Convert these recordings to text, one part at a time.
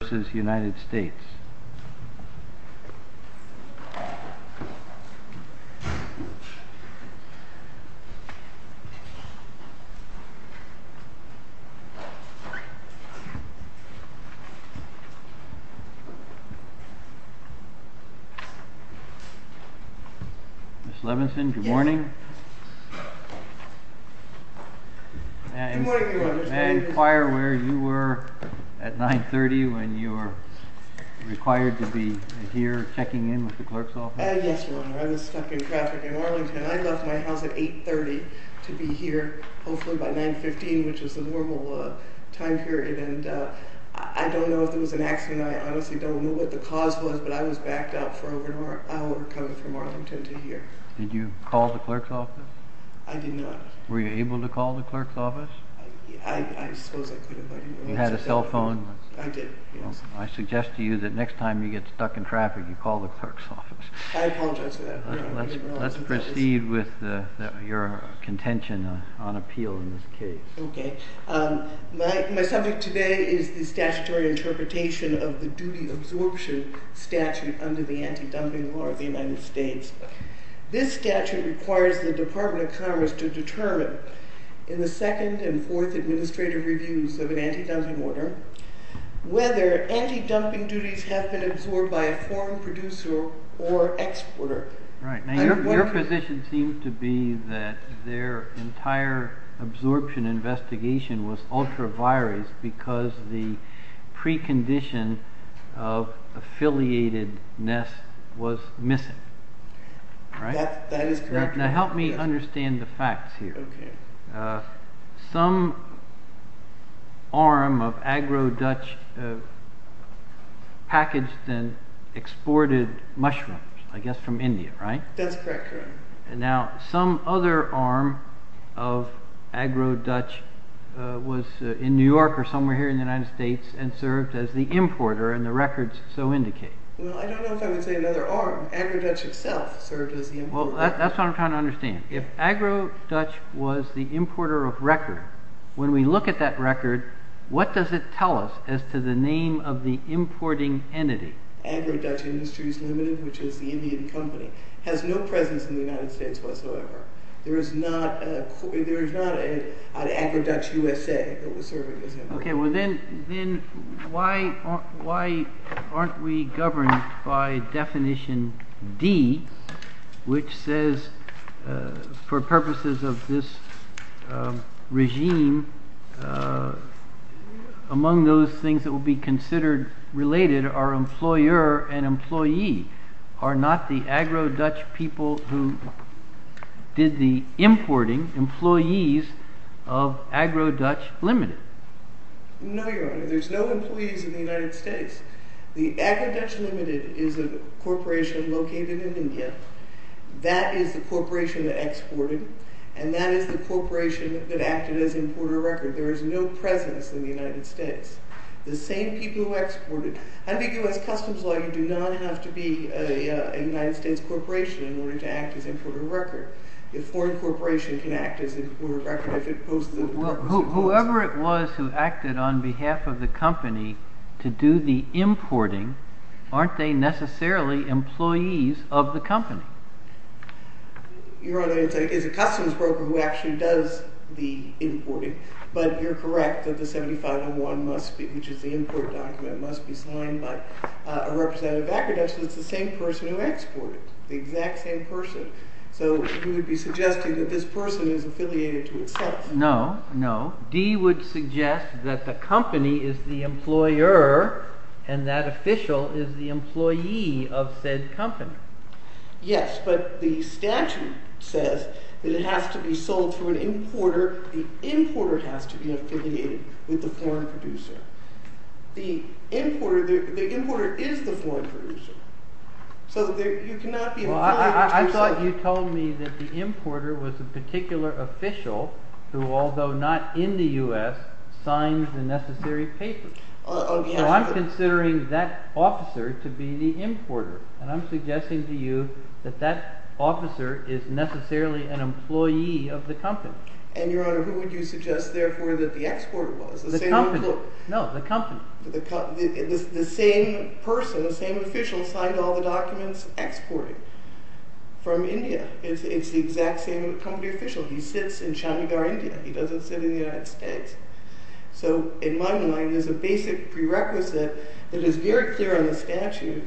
Mrs. Levenson, good morning, and I inquire where you were at 9.30 when you came in. Yes, Your Honor, I was stuck in traffic in Arlington. I left my house at 8.30 to be here hopefully by 9.15, which is the normal time period, and I don't know if there was an accident. I honestly don't know what the cause was, but I was backed up for over an hour coming from Arlington to here. Did you call the clerk's office? I did not. Were you able to call the clerk's office? I suppose I could have. You had a cell phone? I did, yes. I suggest to you that next time you get stuck in traffic, you call the clerk's office. I apologize for that. Let's proceed with your contention on appeal in this case. My subject today is the statutory interpretation of the duty absorption statute under the anti-dumping law of the United States. This statute requires the Department of Commerce to determine in the second and fourth administrative reviews of an anti-dumping order whether anti-dumping duties have been absorbed by a foreign producer or exporter. Your position seems to be that their entire absorption investigation was ultra-virus because the precondition of affiliatedness was missing. That is correct. Now, help me understand the facts here. Some arm of Agro-Dutch packaged and exported mushrooms, I guess from India, right? That's correct. Now, some other arm of Agro-Dutch was in New York or somewhere here in the United States and served as the importer and the records so indicate. Well, I don't know if I would say another arm. Agro-Dutch itself served as the importer. Well, that's what I'm trying to understand. If Agro-Dutch was the importer of record, when we look at that record, what does it tell us as to the name of the importing entity? Agro-Dutch Industries Limited, which is the Indian company, has no presence in the United States whatsoever. There is not an Agro-Dutch USA that was serving as importer. Okay, well then, why aren't we governed by definition D, which says, for purposes of this regime, among those things that will be considered related are employer and employee, are not the Agro-Dutch people who did the importing employees of Agro-Dutch Limited? No, Your Honor. There's no employees in the United States. The Agro-Dutch Limited is a corporation located in India. That is the corporation that exported, and that is the corporation that acted as importer record. There is no presence in the United States. The same people who exported. Under U.S. Customs Law, you do not have to be a United States corporation in order to act as importer record. A foreign corporation can act as importer record if it poses a purpose. Well, whoever it was who acted on behalf of the company to do the importing, aren't they necessarily employees of the company? Your Honor, it is a customs broker who actually does the importing, but you're correct that the 7501 must be, which is the import document, must be signed by a representative of Agro-Dutch. It's the same person who exported. The exact same person. So, you would be suggesting that this person is affiliated to itself. No, no. D would suggest that the company is the employer, and that official is the employee of said company. Yes, but the statute says that it has to be sold through an importer. The importer has to be affiliated with the foreign producer. The importer is the foreign producer. So, you cannot be affiliated with yourself. Well, I thought you told me that the importer was a particular official who, although not in the U.S., signs the necessary papers. Well, I'm considering that officer to be the importer, and I'm suggesting to you that that officer is necessarily an employee of the company. And, Your Honor, who would you suggest, therefore, that the exporter was? The company. No, the company. The same person, the same official signed all the documents exporting from India. It's the exact same company official. He sits in Chandigarh, India. He doesn't sit in the United States. So, in my mind, there's a basic prerequisite that is very clear on the statute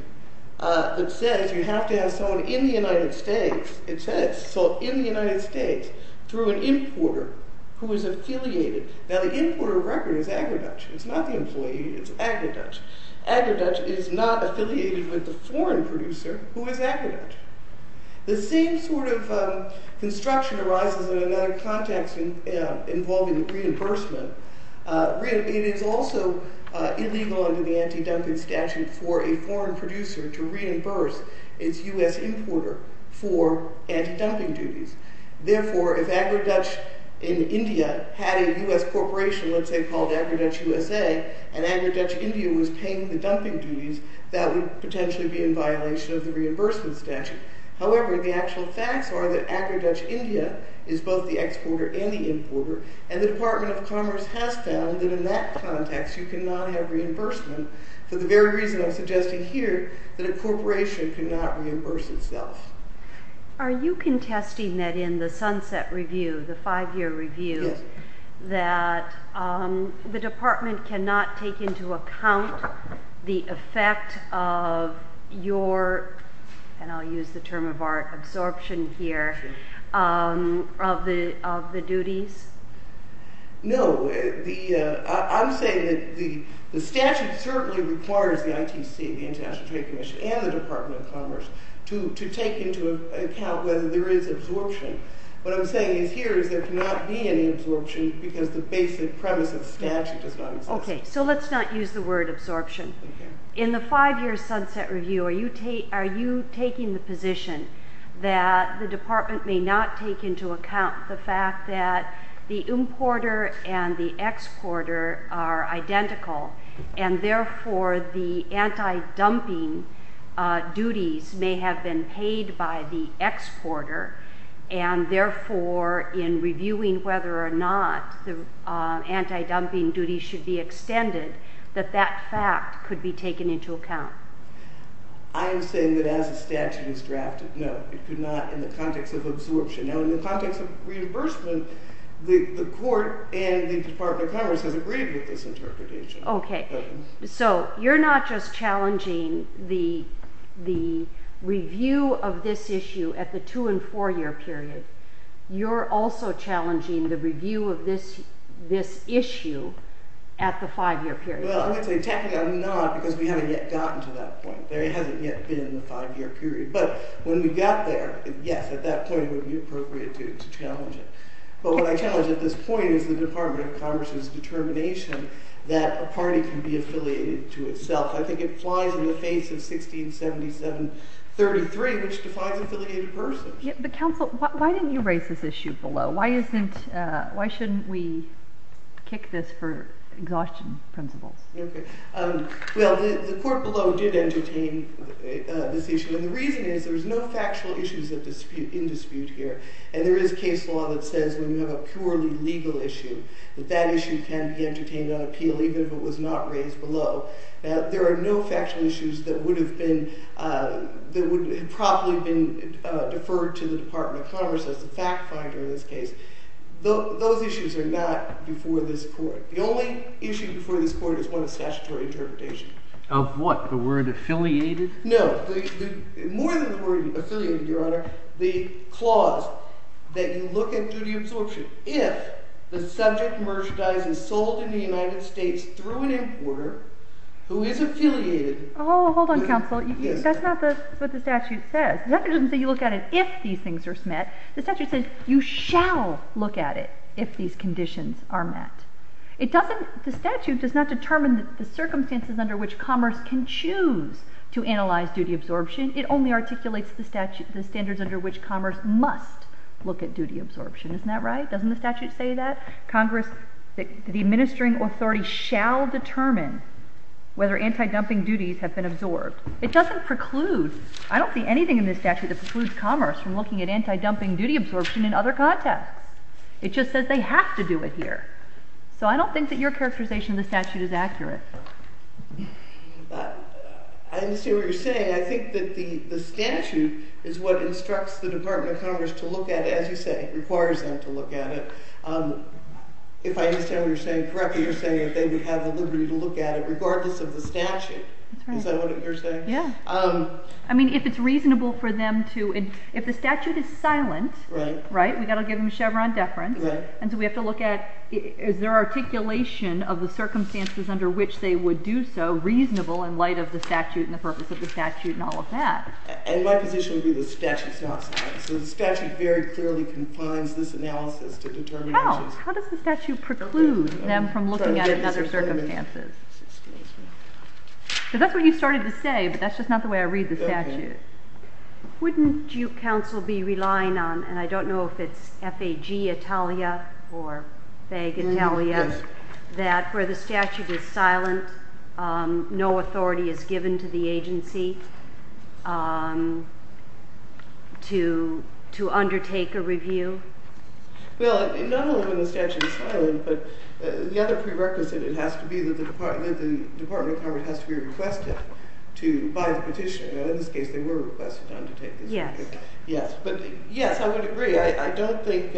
that says you have to have someone in the United States. It says sold in the United States through an importer who is affiliated. Now, the importer record is agri-Dutch. It's not the employee. It's agri-Dutch. Agri-Dutch is not affiliated with the foreign producer who is agri-Dutch. The same sort of construction arises in another context involving reimbursement. It is also illegal under the anti-dumping statute for a foreign producer to reimburse its U.S. importer for anti-dumping duties. Therefore, if agri-Dutch in India had a U.S. corporation, let's say, called Agri-Dutch USA, and agri-Dutch India was paying the dumping duties, that would potentially be in violation of the reimbursement statute. However, the actual facts are that agri-Dutch India is both the exporter and the importer, and the Department of Commerce has found that in that context you cannot have reimbursement for the very reason I'm suggesting here, that a corporation cannot reimburse itself. Are you contesting that in the Sunset Review, the five-year review, that the Department cannot take into account the effect of your – and I'll use the term of our absorption here – of the duties? No. I'm saying that the statute certainly requires the ITC, the International Trade Commission, and the Department of Commerce to take into account whether there is absorption. What I'm saying here is there cannot be any absorption because the basic premise of the statute does not exist. Okay. So let's not use the word absorption. In the five-year Sunset Review, are you taking the position that the Department may not take into account the fact that the importer and the exporter are identical, and therefore the anti-dumping duties may have been paid by the exporter, and therefore in reviewing whether or not the anti-dumping duties should be extended, that that fact could be taken into account? I am saying that as the statute is drafted, no, it could not in the context of absorption. Now, in the context of reimbursement, the court and the Department of Commerce has agreed with this interpretation. Okay. So you're not just challenging the review of this issue at the two- and four-year period. You're also challenging the review of this issue at the five-year period. Well, I would say technically I'm not because we haven't yet gotten to that point. There hasn't yet been a five-year period. But when we got there, yes, at that point it would be appropriate to challenge it. But what I challenge at this point is the Department of Commerce's determination that a party can be affiliated to itself. I think it flies in the face of 1677-33, which defines affiliated persons. But counsel, why didn't you raise this issue below? Why shouldn't we kick this for exhaustion principles? Okay. Well, the court below did entertain this issue. And the reason is there's no factual issues in dispute here. And there is case law that says when you have a purely legal issue, that that issue can be entertained on appeal even if it was not raised below. Now, there are no factual issues that would have been – that would have probably been deferred to the Department of Commerce as the fact finder in this case. Those issues are not before this court. The only issue before this court is one of statutory interpretation. Of what? The word affiliated? No. More than the word affiliated, Your Honor, the clause that you look into the absorption if the subject merchandise is sold in the United States through an importer who is affiliated. Oh, hold on, counsel. That's not what the statute says. The statute doesn't say you look at it if these things are met. The statute says you shall look at it if these conditions are met. It doesn't – the statute does not determine the circumstances under which commerce can choose to analyze duty absorption. It only articulates the statute – the standards under which commerce must look at duty absorption. Isn't that right? Doesn't the statute say that? Congress – the administering authority shall determine whether anti-dumping duties have been absorbed. It doesn't preclude – I don't see anything in this statute that precludes commerce from looking at anti-dumping duty absorption in other contexts. It just says they have to do it here. So I don't think that your characterization of the statute is accurate. I understand what you're saying. I think that the statute is what instructs the Department of Commerce to look at it, as you say, requires them to look at it. If I understand what you're saying correctly, you're saying that they would have the liberty to look at it regardless of the statute. Is that what you're saying? I mean, if it's reasonable for them to – if the statute is silent, right, we've got to give them a Chevron deference, and so we have to look at is there articulation of the circumstances under which they would do so reasonable in light of the statute and the purpose of the statute and all of that. And my position would be the statute's not silent. So the statute very clearly confines this analysis to determining – How? How does the statute preclude them from looking at it in other circumstances? So that's what you started to say, but that's just not the way I read the statute. Okay. Wouldn't you, counsel, be relying on – and I don't know if it's F-A-G Italia or vague Italia – that where the statute is silent, no authority is given to the agency to undertake a review? Well, not only when the statute is silent, but the other prerequisite, it has to be – the Department of Commerce has to be requested to buy the petition. In this case, they were requested to undertake this review. Yes. Yes. But yes, I would agree. I don't think –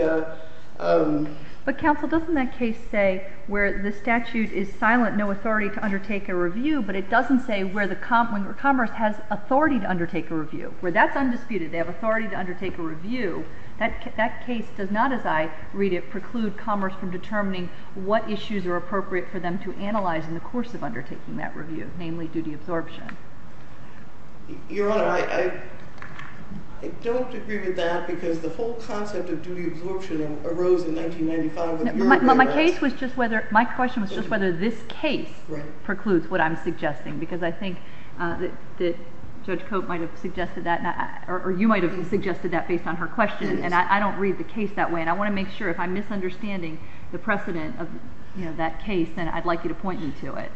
But, counsel, doesn't that case say where the statute is silent, no authority to undertake a review, but it doesn't say where the – when Commerce has authority to undertake a review, where that's undisputed, they have authority to undertake a review. That case does not, as I read it, preclude Commerce from determining what issues are appropriate for them to analyze in the course of undertaking that review, namely duty absorption. Your Honor, I don't agree with that because the whole concept of duty absorption arose in 1995. My case was just whether – my question was just whether this case precludes what I'm suggesting because I think that Judge Cope might have suggested that, or you might have suggested that based on her question. And I don't read the case that way, and I want to make sure if I'm misunderstanding the precedent of that case, then I'd like you to point me to it.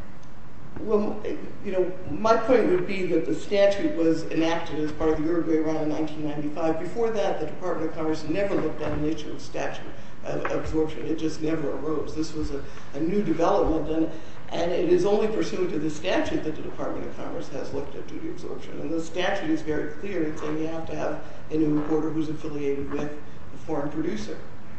Well, you know, my point would be that the statute was enacted as part of the Uruguay run in 1995. Before that, the Department of Commerce never looked at the nature of statute absorption. It just never arose. This was a new development, and it is only pursuant to the statute that the Department of Commerce has looked at duty absorption. And the statute is very clear in saying you have to have a new reporter who's affiliated with a foreign producer.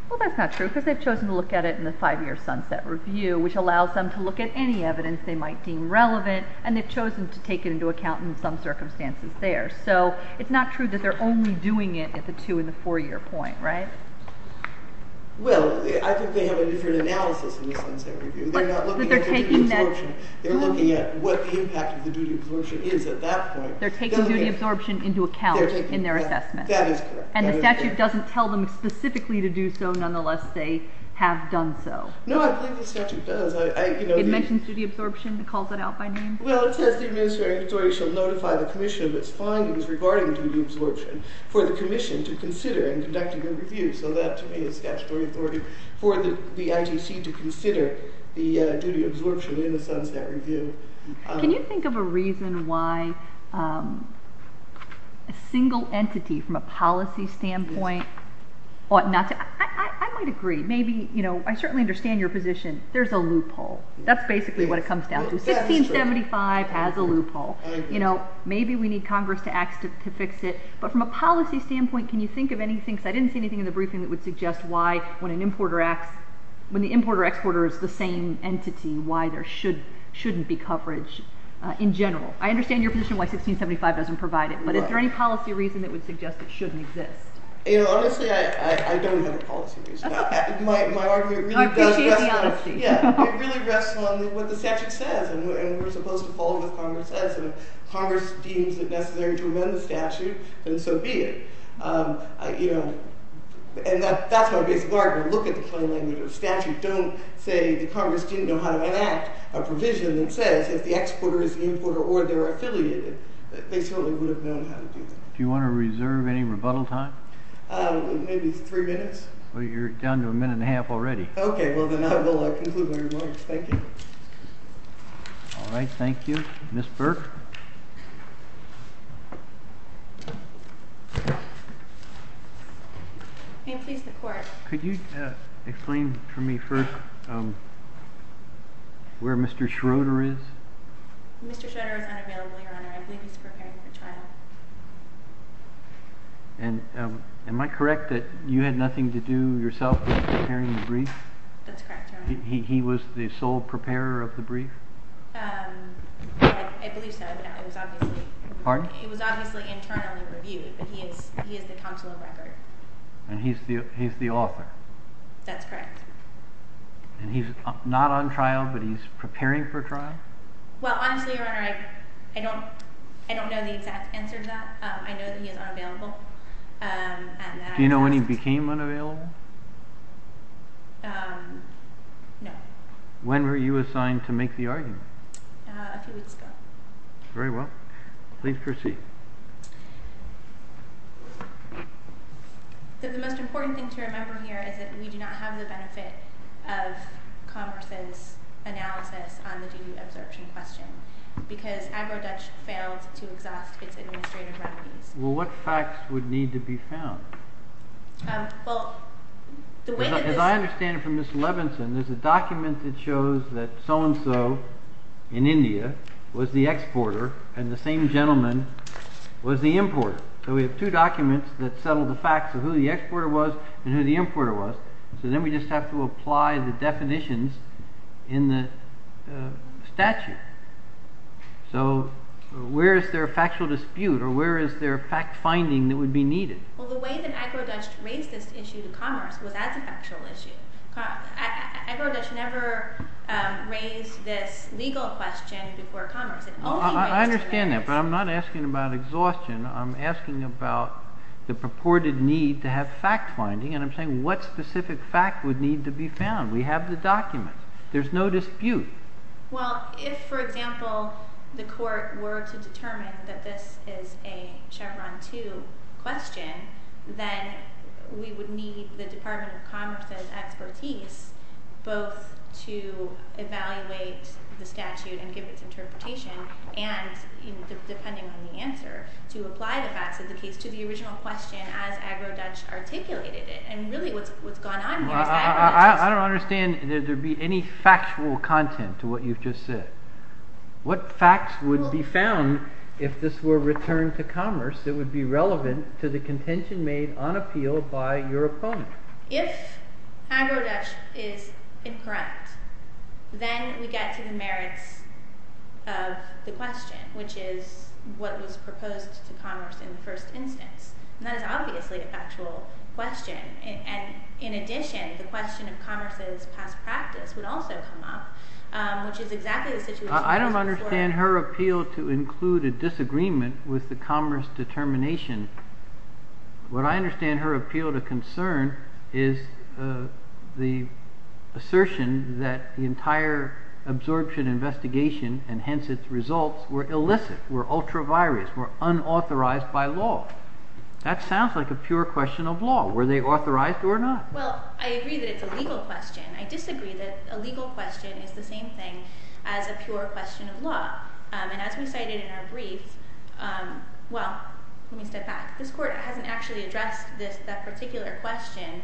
Well, that's not true because they've chosen to look at it in the 5-year sunset review, which allows them to look at any evidence they might deem relevant, and they've chosen to take it into account in some circumstances there. So it's not true that they're only doing it at the 2- and the 4-year point, right? Well, I think they have a different analysis in the sunset review. They're not looking at duty absorption. But they're taking that – They're looking at what the impact of the duty absorption is at that point. They're taking duty absorption into account in their assessment. That is correct. And the statute doesn't tell them specifically to do so. Nonetheless, they have done so. No, I believe the statute does. It mentions duty absorption, calls it out by name? Well, it says the administrative authority shall notify the commission of its findings regarding duty absorption for the commission to consider in conducting a review. So that, to me, is statutory authority for the ITC to consider the duty absorption in the sunset review. Can you think of a reason why a single entity from a policy standpoint ought not to – I might agree. Maybe – I certainly understand your position. There's a loophole. That's basically what it comes down to. 1675 has a loophole. Maybe we need Congress to act to fix it. But from a policy standpoint, can you think of anything – because I didn't see anything in the briefing that would suggest why when an importer – when the importer-exporter is the same entity, why there shouldn't be coverage in general. I understand your position why 1675 doesn't provide it. But is there any policy reason that would suggest it shouldn't exist? Honestly, I don't have a policy reason. My argument really does – I appreciate the honesty. Yeah. It really rests on what the statute says. And we're supposed to follow what Congress says. And if Congress deems it necessary to amend the statute, then so be it. And that's my basic argument. Look at the plain language of the statute. Don't say the Congress didn't know how to enact a provision that says if the exporter is the importer or they're affiliated, they certainly would have known how to do that. Do you want to reserve any rebuttal time? Maybe three minutes. Well, you're down to a minute and a half already. Okay. Well, then I will conclude my remarks. Thank you. All right. Thank you. Ms. Burke? May it please the Court. Could you explain for me first where Mr. Schroeder is? Mr. Schroeder is unavailable, Your Honor. I believe he's preparing for trial. Am I correct that you had nothing to do yourself with preparing the brief? That's correct, Your Honor. He was the sole preparer of the brief? I believe so, but it was obviously internally reviewed, but he is the consular record. And he's the author? That's correct. And he's not on trial, but he's preparing for trial? Well, honestly, Your Honor, I don't know the exact answer to that. I know that he is unavailable. Do you know when he became unavailable? No. When were you assigned to make the argument? A few weeks ago. Very well. Please proceed. The most important thing to remember here is that we do not have the benefit of Congress's analysis on the duty of absorption question because Agro-Dutch failed to exhaust its administrative remedies. Well, what facts would need to be found? As I understand it from Ms. Levinson, there's a document that shows that so-and-so in India was the exporter and the same gentleman was the importer. So we have two documents that settle the facts of who the exporter was and who the importer was. So then we just have to apply the definitions in the statute. So where is there a factual dispute or where is there a fact finding that would be needed? Well, the way that Agro-Dutch raised this issue to Congress was as a factual issue. Agro-Dutch never raised this legal question before Congress. I understand that, but I'm not asking about exhaustion. I'm asking about the purported need to have fact finding, and I'm saying what specific fact would need to be found. We have the document. There's no dispute. Well, if, for example, the court were to determine that this is a Chevron 2 question, then we would need the Department of Commerce's expertise both to evaluate the statute and give its interpretation, and depending on the answer, to apply the facts of the case to the original question as Agro-Dutch articulated it. And really what's gone on here is that Agro-Dutch is— I don't understand. Did there be any factual content to what you've just said? What facts would be found if this were returned to Commerce that would be relevant to the contention made on appeal by your opponent? If Agro-Dutch is incorrect, then we get to the merits of the question, which is what was proposed to Commerce in the first instance, and that is obviously a factual question. And in addition, the question of Commerce's past practice would also come up, which is exactly the situation— I don't understand her appeal to include a disagreement with the Commerce determination. What I understand her appeal to concern is the assertion that the entire absorption investigation and hence its results were illicit, were ultra-virus, were unauthorized by law. That sounds like a pure question of law. Were they authorized or not? Well, I agree that it's a legal question. I disagree that a legal question is the same thing as a pure question of law. And as we cited in our brief—well, let me step back. This Court hasn't actually addressed that particular question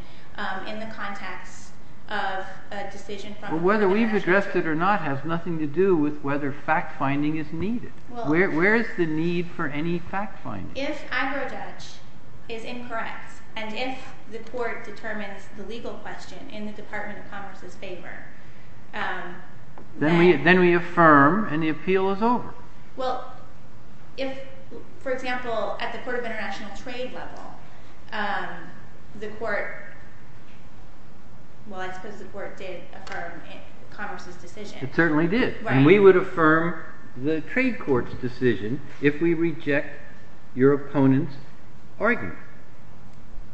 in the context of a decision from— Well, whether we've addressed it or not has nothing to do with whether fact-finding is needed. Where is the need for any fact-finding? If Agrojudge is incorrect and if the Court determines the legal question in the Department of Commerce's favor— Then we affirm and the appeal is over. Well, if, for example, at the Court of International Trade level, the Court— well, I suppose the Court did affirm Commerce's decision. It certainly did. And we would affirm the trade court's decision if we reject your opponent's argument.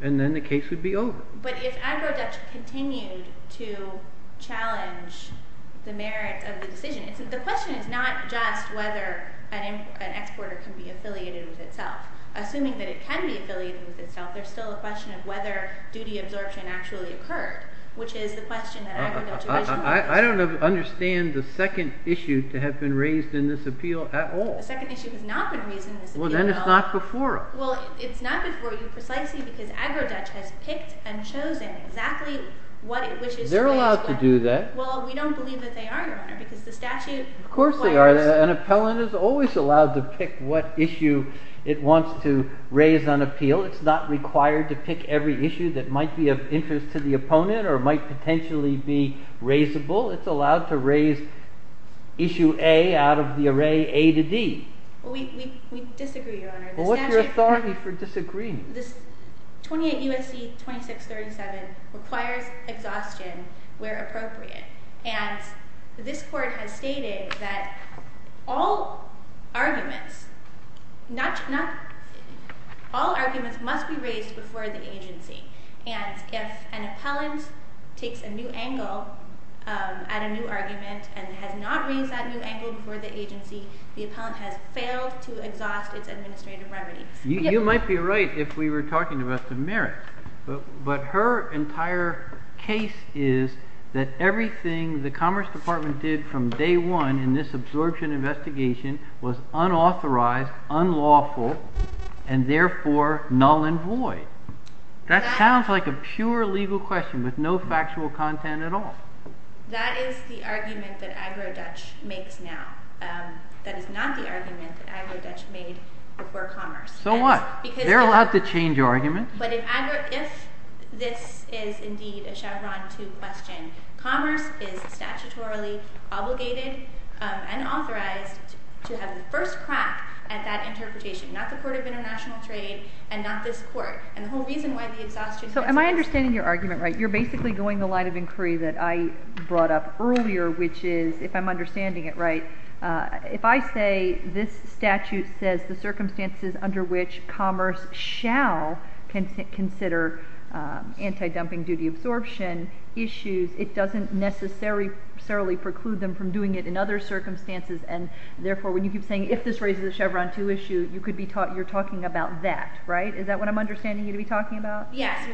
And then the case would be over. But if Agrojudge continued to challenge the merits of the decision, the question is not just whether an exporter can be affiliated with itself. Assuming that it can be affiliated with itself, there's still a question of whether duty absorption actually occurred, which is the question that Agrojudge— I don't understand the second issue to have been raised in this appeal at all. The second issue has not been raised in this appeal at all. Well, then it's not before us. Well, it's not before you precisely because Agrojudge has picked and chosen exactly what it wishes to raise— They're allowed to do that. Well, we don't believe that they are, Your Honor, because the statute requires— Of course they are. An appellant is always allowed to pick what issue it wants to raise on appeal. It's not required to pick every issue that might be of interest to the opponent or might potentially be raisable. It's allowed to raise issue A out of the array A to D. We disagree, Your Honor. What's your authority for disagreeing? This 28 U.S.C. 2637 requires exhaustion where appropriate. And this Court has stated that all arguments must be raised before the agency. And if an appellant takes a new angle at a new argument and has not raised that new angle before the agency, the appellant has failed to exhaust its administrative remedies. You might be right if we were talking about the merits. But her entire case is that everything the Commerce Department did from day one in this absorption investigation was unauthorized, unlawful, and therefore null and void. That sounds like a pure legal question with no factual content at all. That is the argument that Agrojudge makes now. That is not the argument that Agrojudge made before Commerce. So what? They're allowed to change arguments. But if this is indeed a Chevron 2 question, Commerce is statutorily obligated and authorized to have the first crack at that interpretation, not the Court of International Trade and not this Court. And the whole reason why the exhaustion… So am I understanding your argument right? You're basically going the line of inquiry that I brought up earlier, which is, if I'm understanding it right, if I say this statute says the circumstances under which Commerce shall consider anti-dumping duty absorption issues, it doesn't necessarily preclude them from doing it in other circumstances, and therefore when you keep saying if this raises a Chevron 2 issue, you're talking about that, right? Is that what I'm understanding you to be talking about? Yes.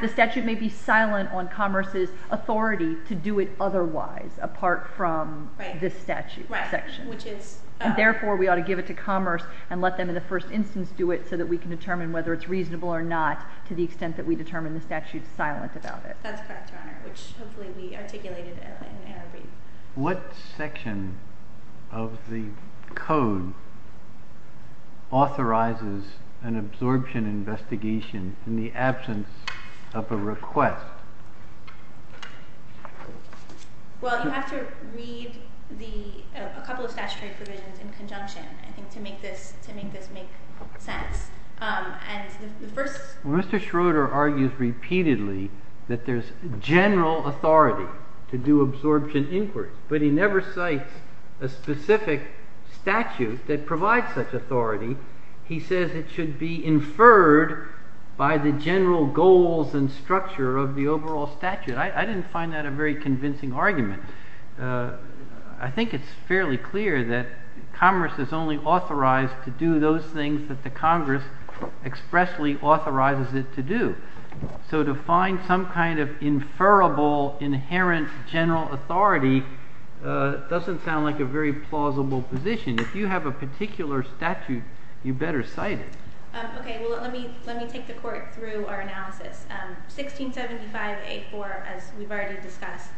The statute may be silent on Commerce's authority to do it otherwise apart from this statute section. Right, which is… And therefore we ought to give it to Commerce and let them in the first instance do it so that we can determine whether it's reasonable or not to the extent that we determine the statute's silent about it. That's correct, Your Honor, which hopefully we articulated in our brief. What section of the code authorizes an absorption investigation in the absence of a request? Well, you have to read a couple of statutory provisions in conjunction, I think, to make this make sense. Mr. Schroeder argues repeatedly that there's general authority to do absorption inquiries, but he never cites a specific statute that provides such authority. He says it should be inferred by the general goals and structure of the overall statute. I didn't find that a very convincing argument. I think it's fairly clear that Commerce is only authorized to do those things that the Congress expressly authorizes it to do. So to find some kind of inferrable inherent general authority doesn't sound like a very plausible position. If you have a particular statute, you better cite it. Okay, well, let me take the court through our analysis. 1675.8.4, as we've already discussed,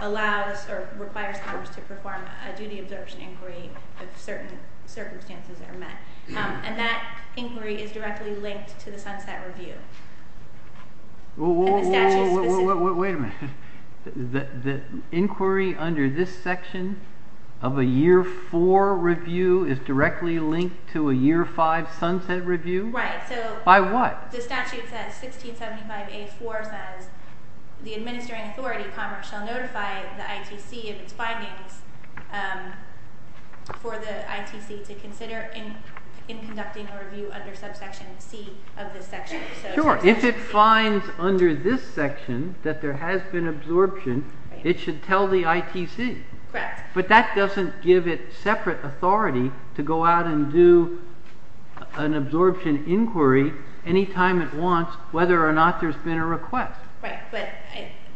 allows or requires Commerce to perform a duty absorption inquiry if certain circumstances are met. And that inquiry is directly linked to the Sunset Review. Whoa, whoa, whoa, wait a minute. The inquiry under this section of a Year 4 review is directly linked to a Year 5 Sunset Review? Right. By what? The statute says 1675.8.4 says the administering authority, Commerce, shall notify the ITC of its findings for the ITC to consider in conducting a review under subsection C of this section. Sure. If it finds under this section that there has been absorption, it should tell the ITC. Correct. But that doesn't give it separate authority to go out and do an absorption inquiry any time it wants, whether or not there's been a request. Right, but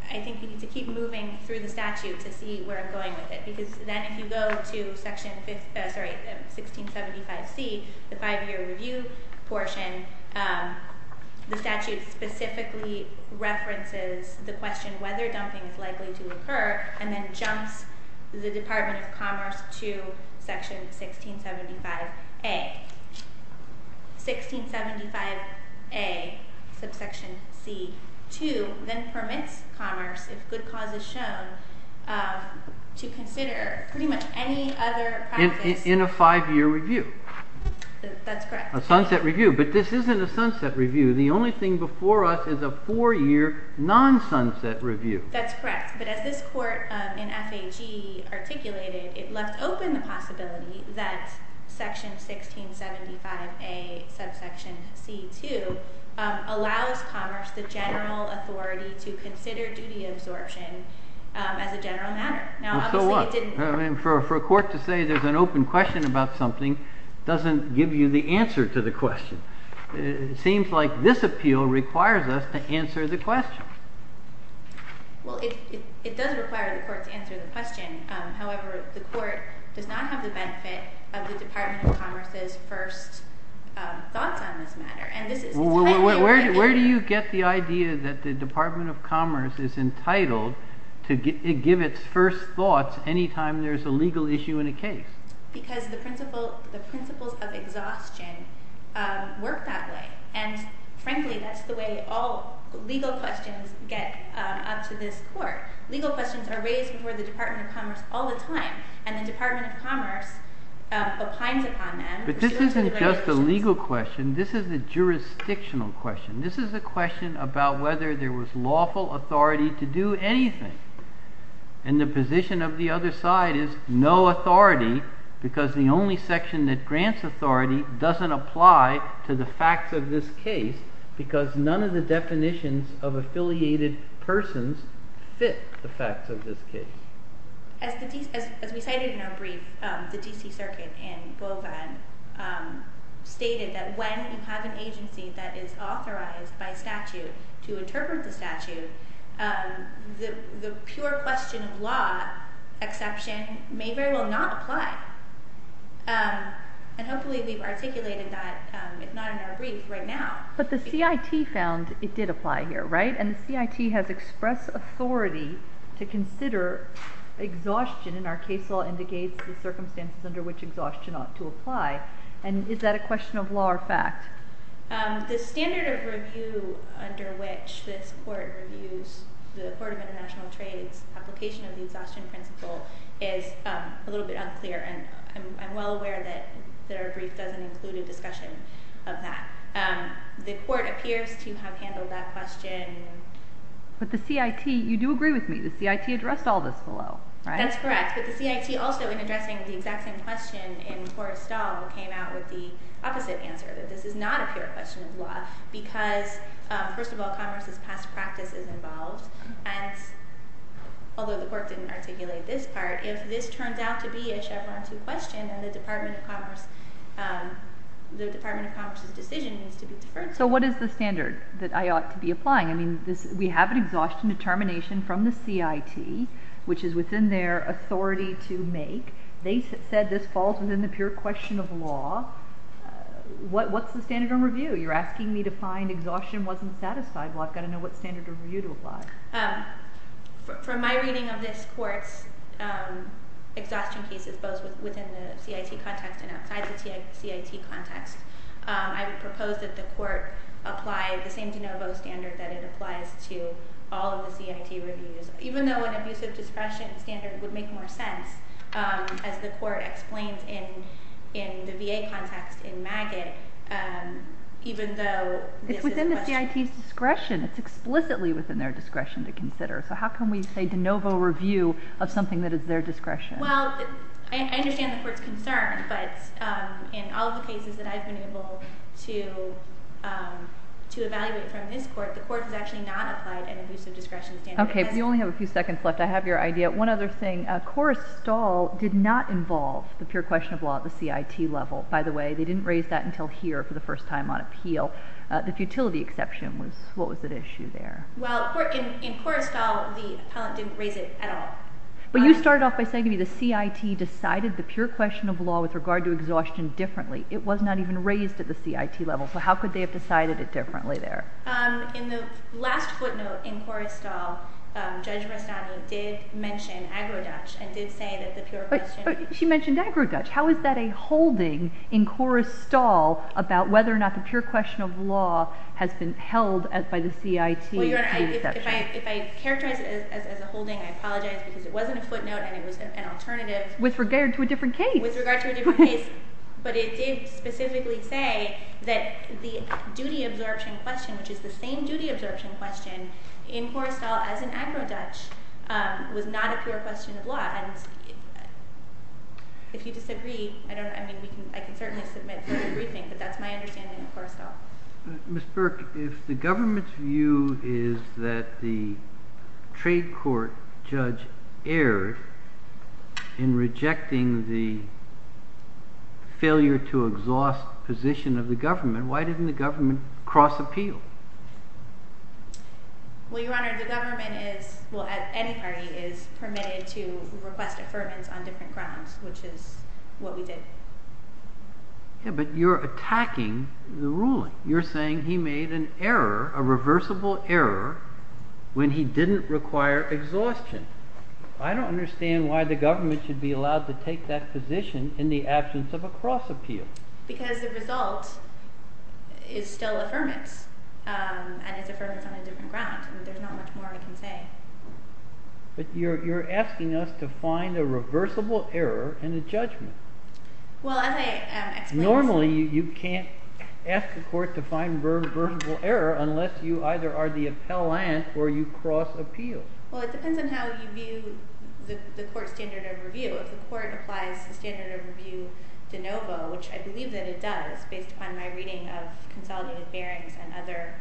I think we need to keep moving through the statute to see where I'm going with it. Because then if you go to section 1675.c, the five-year review portion, the statute specifically references the question whether dumping is likely to occur, and then jumps the Department of Commerce to section 1675.a. 1675.a, subsection C, 2, then permits Commerce, if good cause is shown, to consider pretty much any other practice. In a five-year review. That's correct. A sunset review. But this isn't a sunset review. The only thing before us is a four-year non-sunset review. That's correct. But as this court in F.A.G. articulated, it left open the possibility that section 1675.a, subsection C, 2, allows Commerce the general authority to consider duty absorption as a general matter. Well, so what? For a court to say there's an open question about something doesn't give you the answer to the question. It seems like this appeal requires us to answer the question. Well, it does require the court to answer the question. However, the court does not have the benefit of the Department of Commerce's first thoughts on this matter. Where do you get the idea that the Department of Commerce is entitled to give its first thoughts any time there's a legal issue in a case? Because the principles of exhaustion work that way. And frankly, that's the way all legal questions get up to this court. Legal questions are raised before the Department of Commerce all the time. And the Department of Commerce opines upon them. But this isn't just a legal question. This is a jurisdictional question. This is a question about whether there was lawful authority to do anything. And the position of the other side is no authority because the only section that grants authority doesn't apply to the facts of this case because none of the definitions of affiliated persons fit the facts of this case. As we cited in our brief, the D.C. Circuit in Beauvin stated that when you have an agency that is authorized by statute to interpret the statute, the pure question of law exception may very well not apply. And hopefully we've articulated that, if not in our brief, right now. But the C.I.T. found it did apply here, right? And the C.I.T. has expressed authority to consider exhaustion. And our case law indicates the circumstances under which exhaustion ought to apply. And is that a question of law or fact? The standard of review under which this court reviews the Court of International Trade's application of the exhaustion principle is a little bit unclear. And I'm well aware that our brief doesn't include a discussion of that. The court appears to have handled that question. But the C.I.T., you do agree with me, the C.I.T. addressed all this below, right? That's correct. But the C.I.T. also, in addressing the exact same question in Forrestall, came out with the opposite answer, that this is not a pure question of law because, first of all, commerce's past practice is involved. And although the court didn't articulate this part, if this turns out to be a Chevron 2 question, then the Department of Commerce's decision needs to be deferred to. So what is the standard that I ought to be applying? I mean, we have an exhaustion determination from the C.I.T., which is within their authority to make. They said this falls within the pure question of law. What's the standard of review? You're asking me to find exhaustion wasn't satisfied. Well, I've got to know what standard of review to apply. From my reading of this court's exhaustion cases, both within the C.I.T. context and outside the C.I.T. context, I would propose that the court apply the same de novo standard that it applies to all of the C.I.T. reviews. Even though an abusive discretion standard would make more sense, as the court explained in the V.A. context in Maggott, even though this is a question... It's within the C.I.T.'s discretion. It's explicitly within their discretion to consider. So how can we say de novo review of something that is their discretion? Well, I understand the court's concern, but in all of the cases that I've been able to evaluate from this court, the court has actually not applied an abusive discretion standard. Okay. You only have a few seconds left. I have your idea. One other thing. Korrestal did not involve the pure question of law at the C.I.T. level. By the way, they didn't raise that until here for the first time on appeal. The futility exception was... What was at issue there? Well, in Korrestal, the appellant didn't raise it at all. But you started off by saying to me the C.I.T. decided the pure question of law with regard to exhaustion differently. It was not even raised at the C.I.T. level. So how could they have decided it differently there? In the last footnote in Korrestal, Judge Rastani did mention agro-Dutch and did say that the pure question... But she mentioned agro-Dutch. How is that a holding in Korrestal about whether or not the pure question of law has been held by the C.I.T. Well, Your Honor, if I characterize it as a holding, I apologize because it wasn't a footnote and it was an alternative. With regard to a different case. But it did specifically say that the duty absorption question, which is the same duty absorption question in Korrestal as an agro-Dutch, was not a pure question of law. And if you disagree, I can certainly submit further briefing, but that's my understanding of Korrestal. Ms. Burke, if the government's view is that the trade court judge erred in rejecting the failure to exhaust position of the government, why didn't the government cross-appeal? Well, Your Honor, the government is, well, any party is permitted to request affirmance on different grounds, which is what we did. Yeah, but you're attacking the ruling. You're saying he made an error, a reversible error, when he didn't require exhaustion. I don't understand why the government should be allowed to take that position in the absence of a cross-appeal. Because the result is still affirmance, and it's affirmance on a different ground. There's not much more I can say. But you're asking us to find a reversible error in a judgment. Well, as I explained to you— Normally, you can't ask the court to find a reversible error unless you either are the appellant or you cross-appeal. Well, it depends on how you view the court's standard of review. If the court applies the standard of review de novo, which I believe that it does, based upon my reading of consolidated bearings and other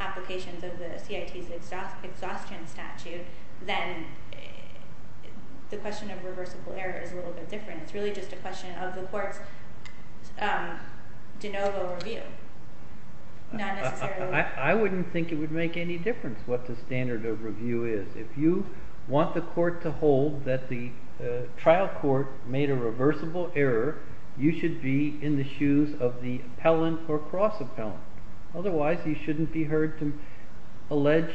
applications of the CIT's exhaustion statute, then the question of reversible error is a little bit different. It's really just a question of the court's de novo review, not necessarily— I wouldn't think it would make any difference what the standard of review is. If you want the court to hold that the trial court made a reversible error, you should be in the shoes of the appellant or cross-appellant. Otherwise, you shouldn't be heard to allege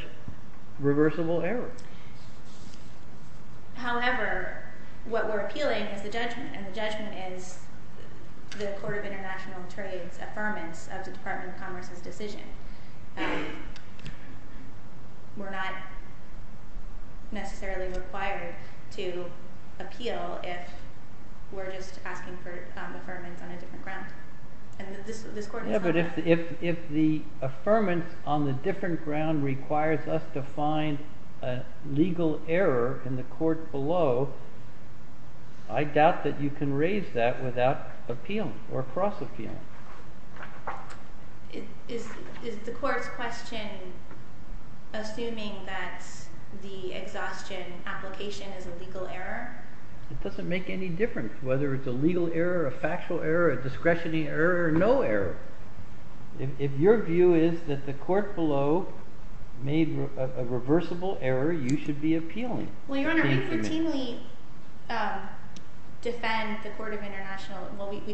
reversible error. However, what we're appealing is the judgment, and the judgment is the Court of International Trade's affirmance of the Department of Commerce's decision. We're not necessarily required to appeal if we're just asking for affirmance on a different ground. Yeah, but if the affirmance on the different ground requires us to find a legal error in the court below, I doubt that you can raise that without appealing or cross-appealing. Is the court's question assuming that the exhaustion application is a legal error? It doesn't make any difference whether it's a legal error, a factual error, a discretionary error, or no error. If your view is that the court below made a reversible error, you should be appealing. Well, Your Honor, we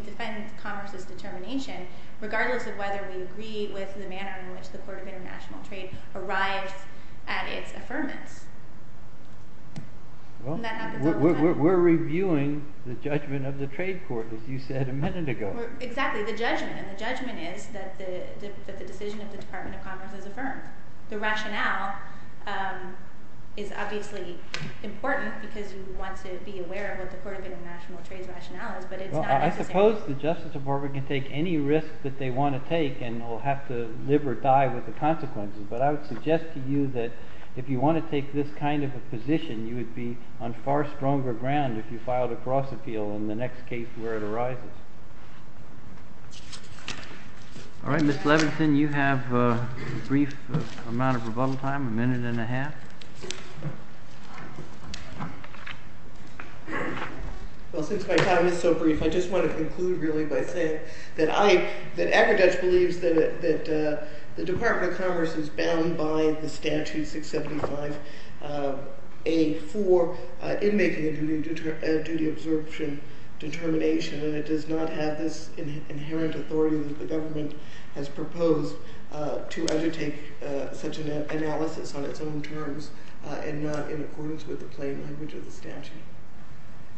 defend Commerce's determination, regardless of whether we agree with the manner in which the Court of International Trade arrives at its affirmance. We're reviewing the judgment of the trade court, as you said a minute ago. Exactly, the judgment, and the judgment is that the decision of the Department of Commerce is affirmed. The rationale is obviously important because you want to be aware of what the Court of International Trade's rationale is, but it's not necessary. Well, I suppose the Justice Department can take any risk that they want to take and will have to live or die with the consequences. But I would suggest to you that if you want to take this kind of a position, you would be on far stronger ground if you filed a cross-appeal in the next case where it arises. All right, Ms. Levenson, you have a brief amount of rebuttal time, a minute and a half. Well, since my time is so brief, I just want to conclude, really, by saying that I, that Agriduch believes that the Department of Commerce is bound by the statute 675A4 in making a duty of absorption determination, and it does not have this inherent authority that the government has proposed to undertake such an analysis on its own terms and not in accordance with the plain language of the statute.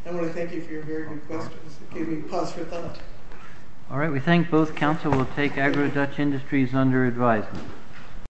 I want to thank you for your very good questions. Give me a pause for thought. All right, we thank both counsel. We'll take Agriduch Industries under advisement.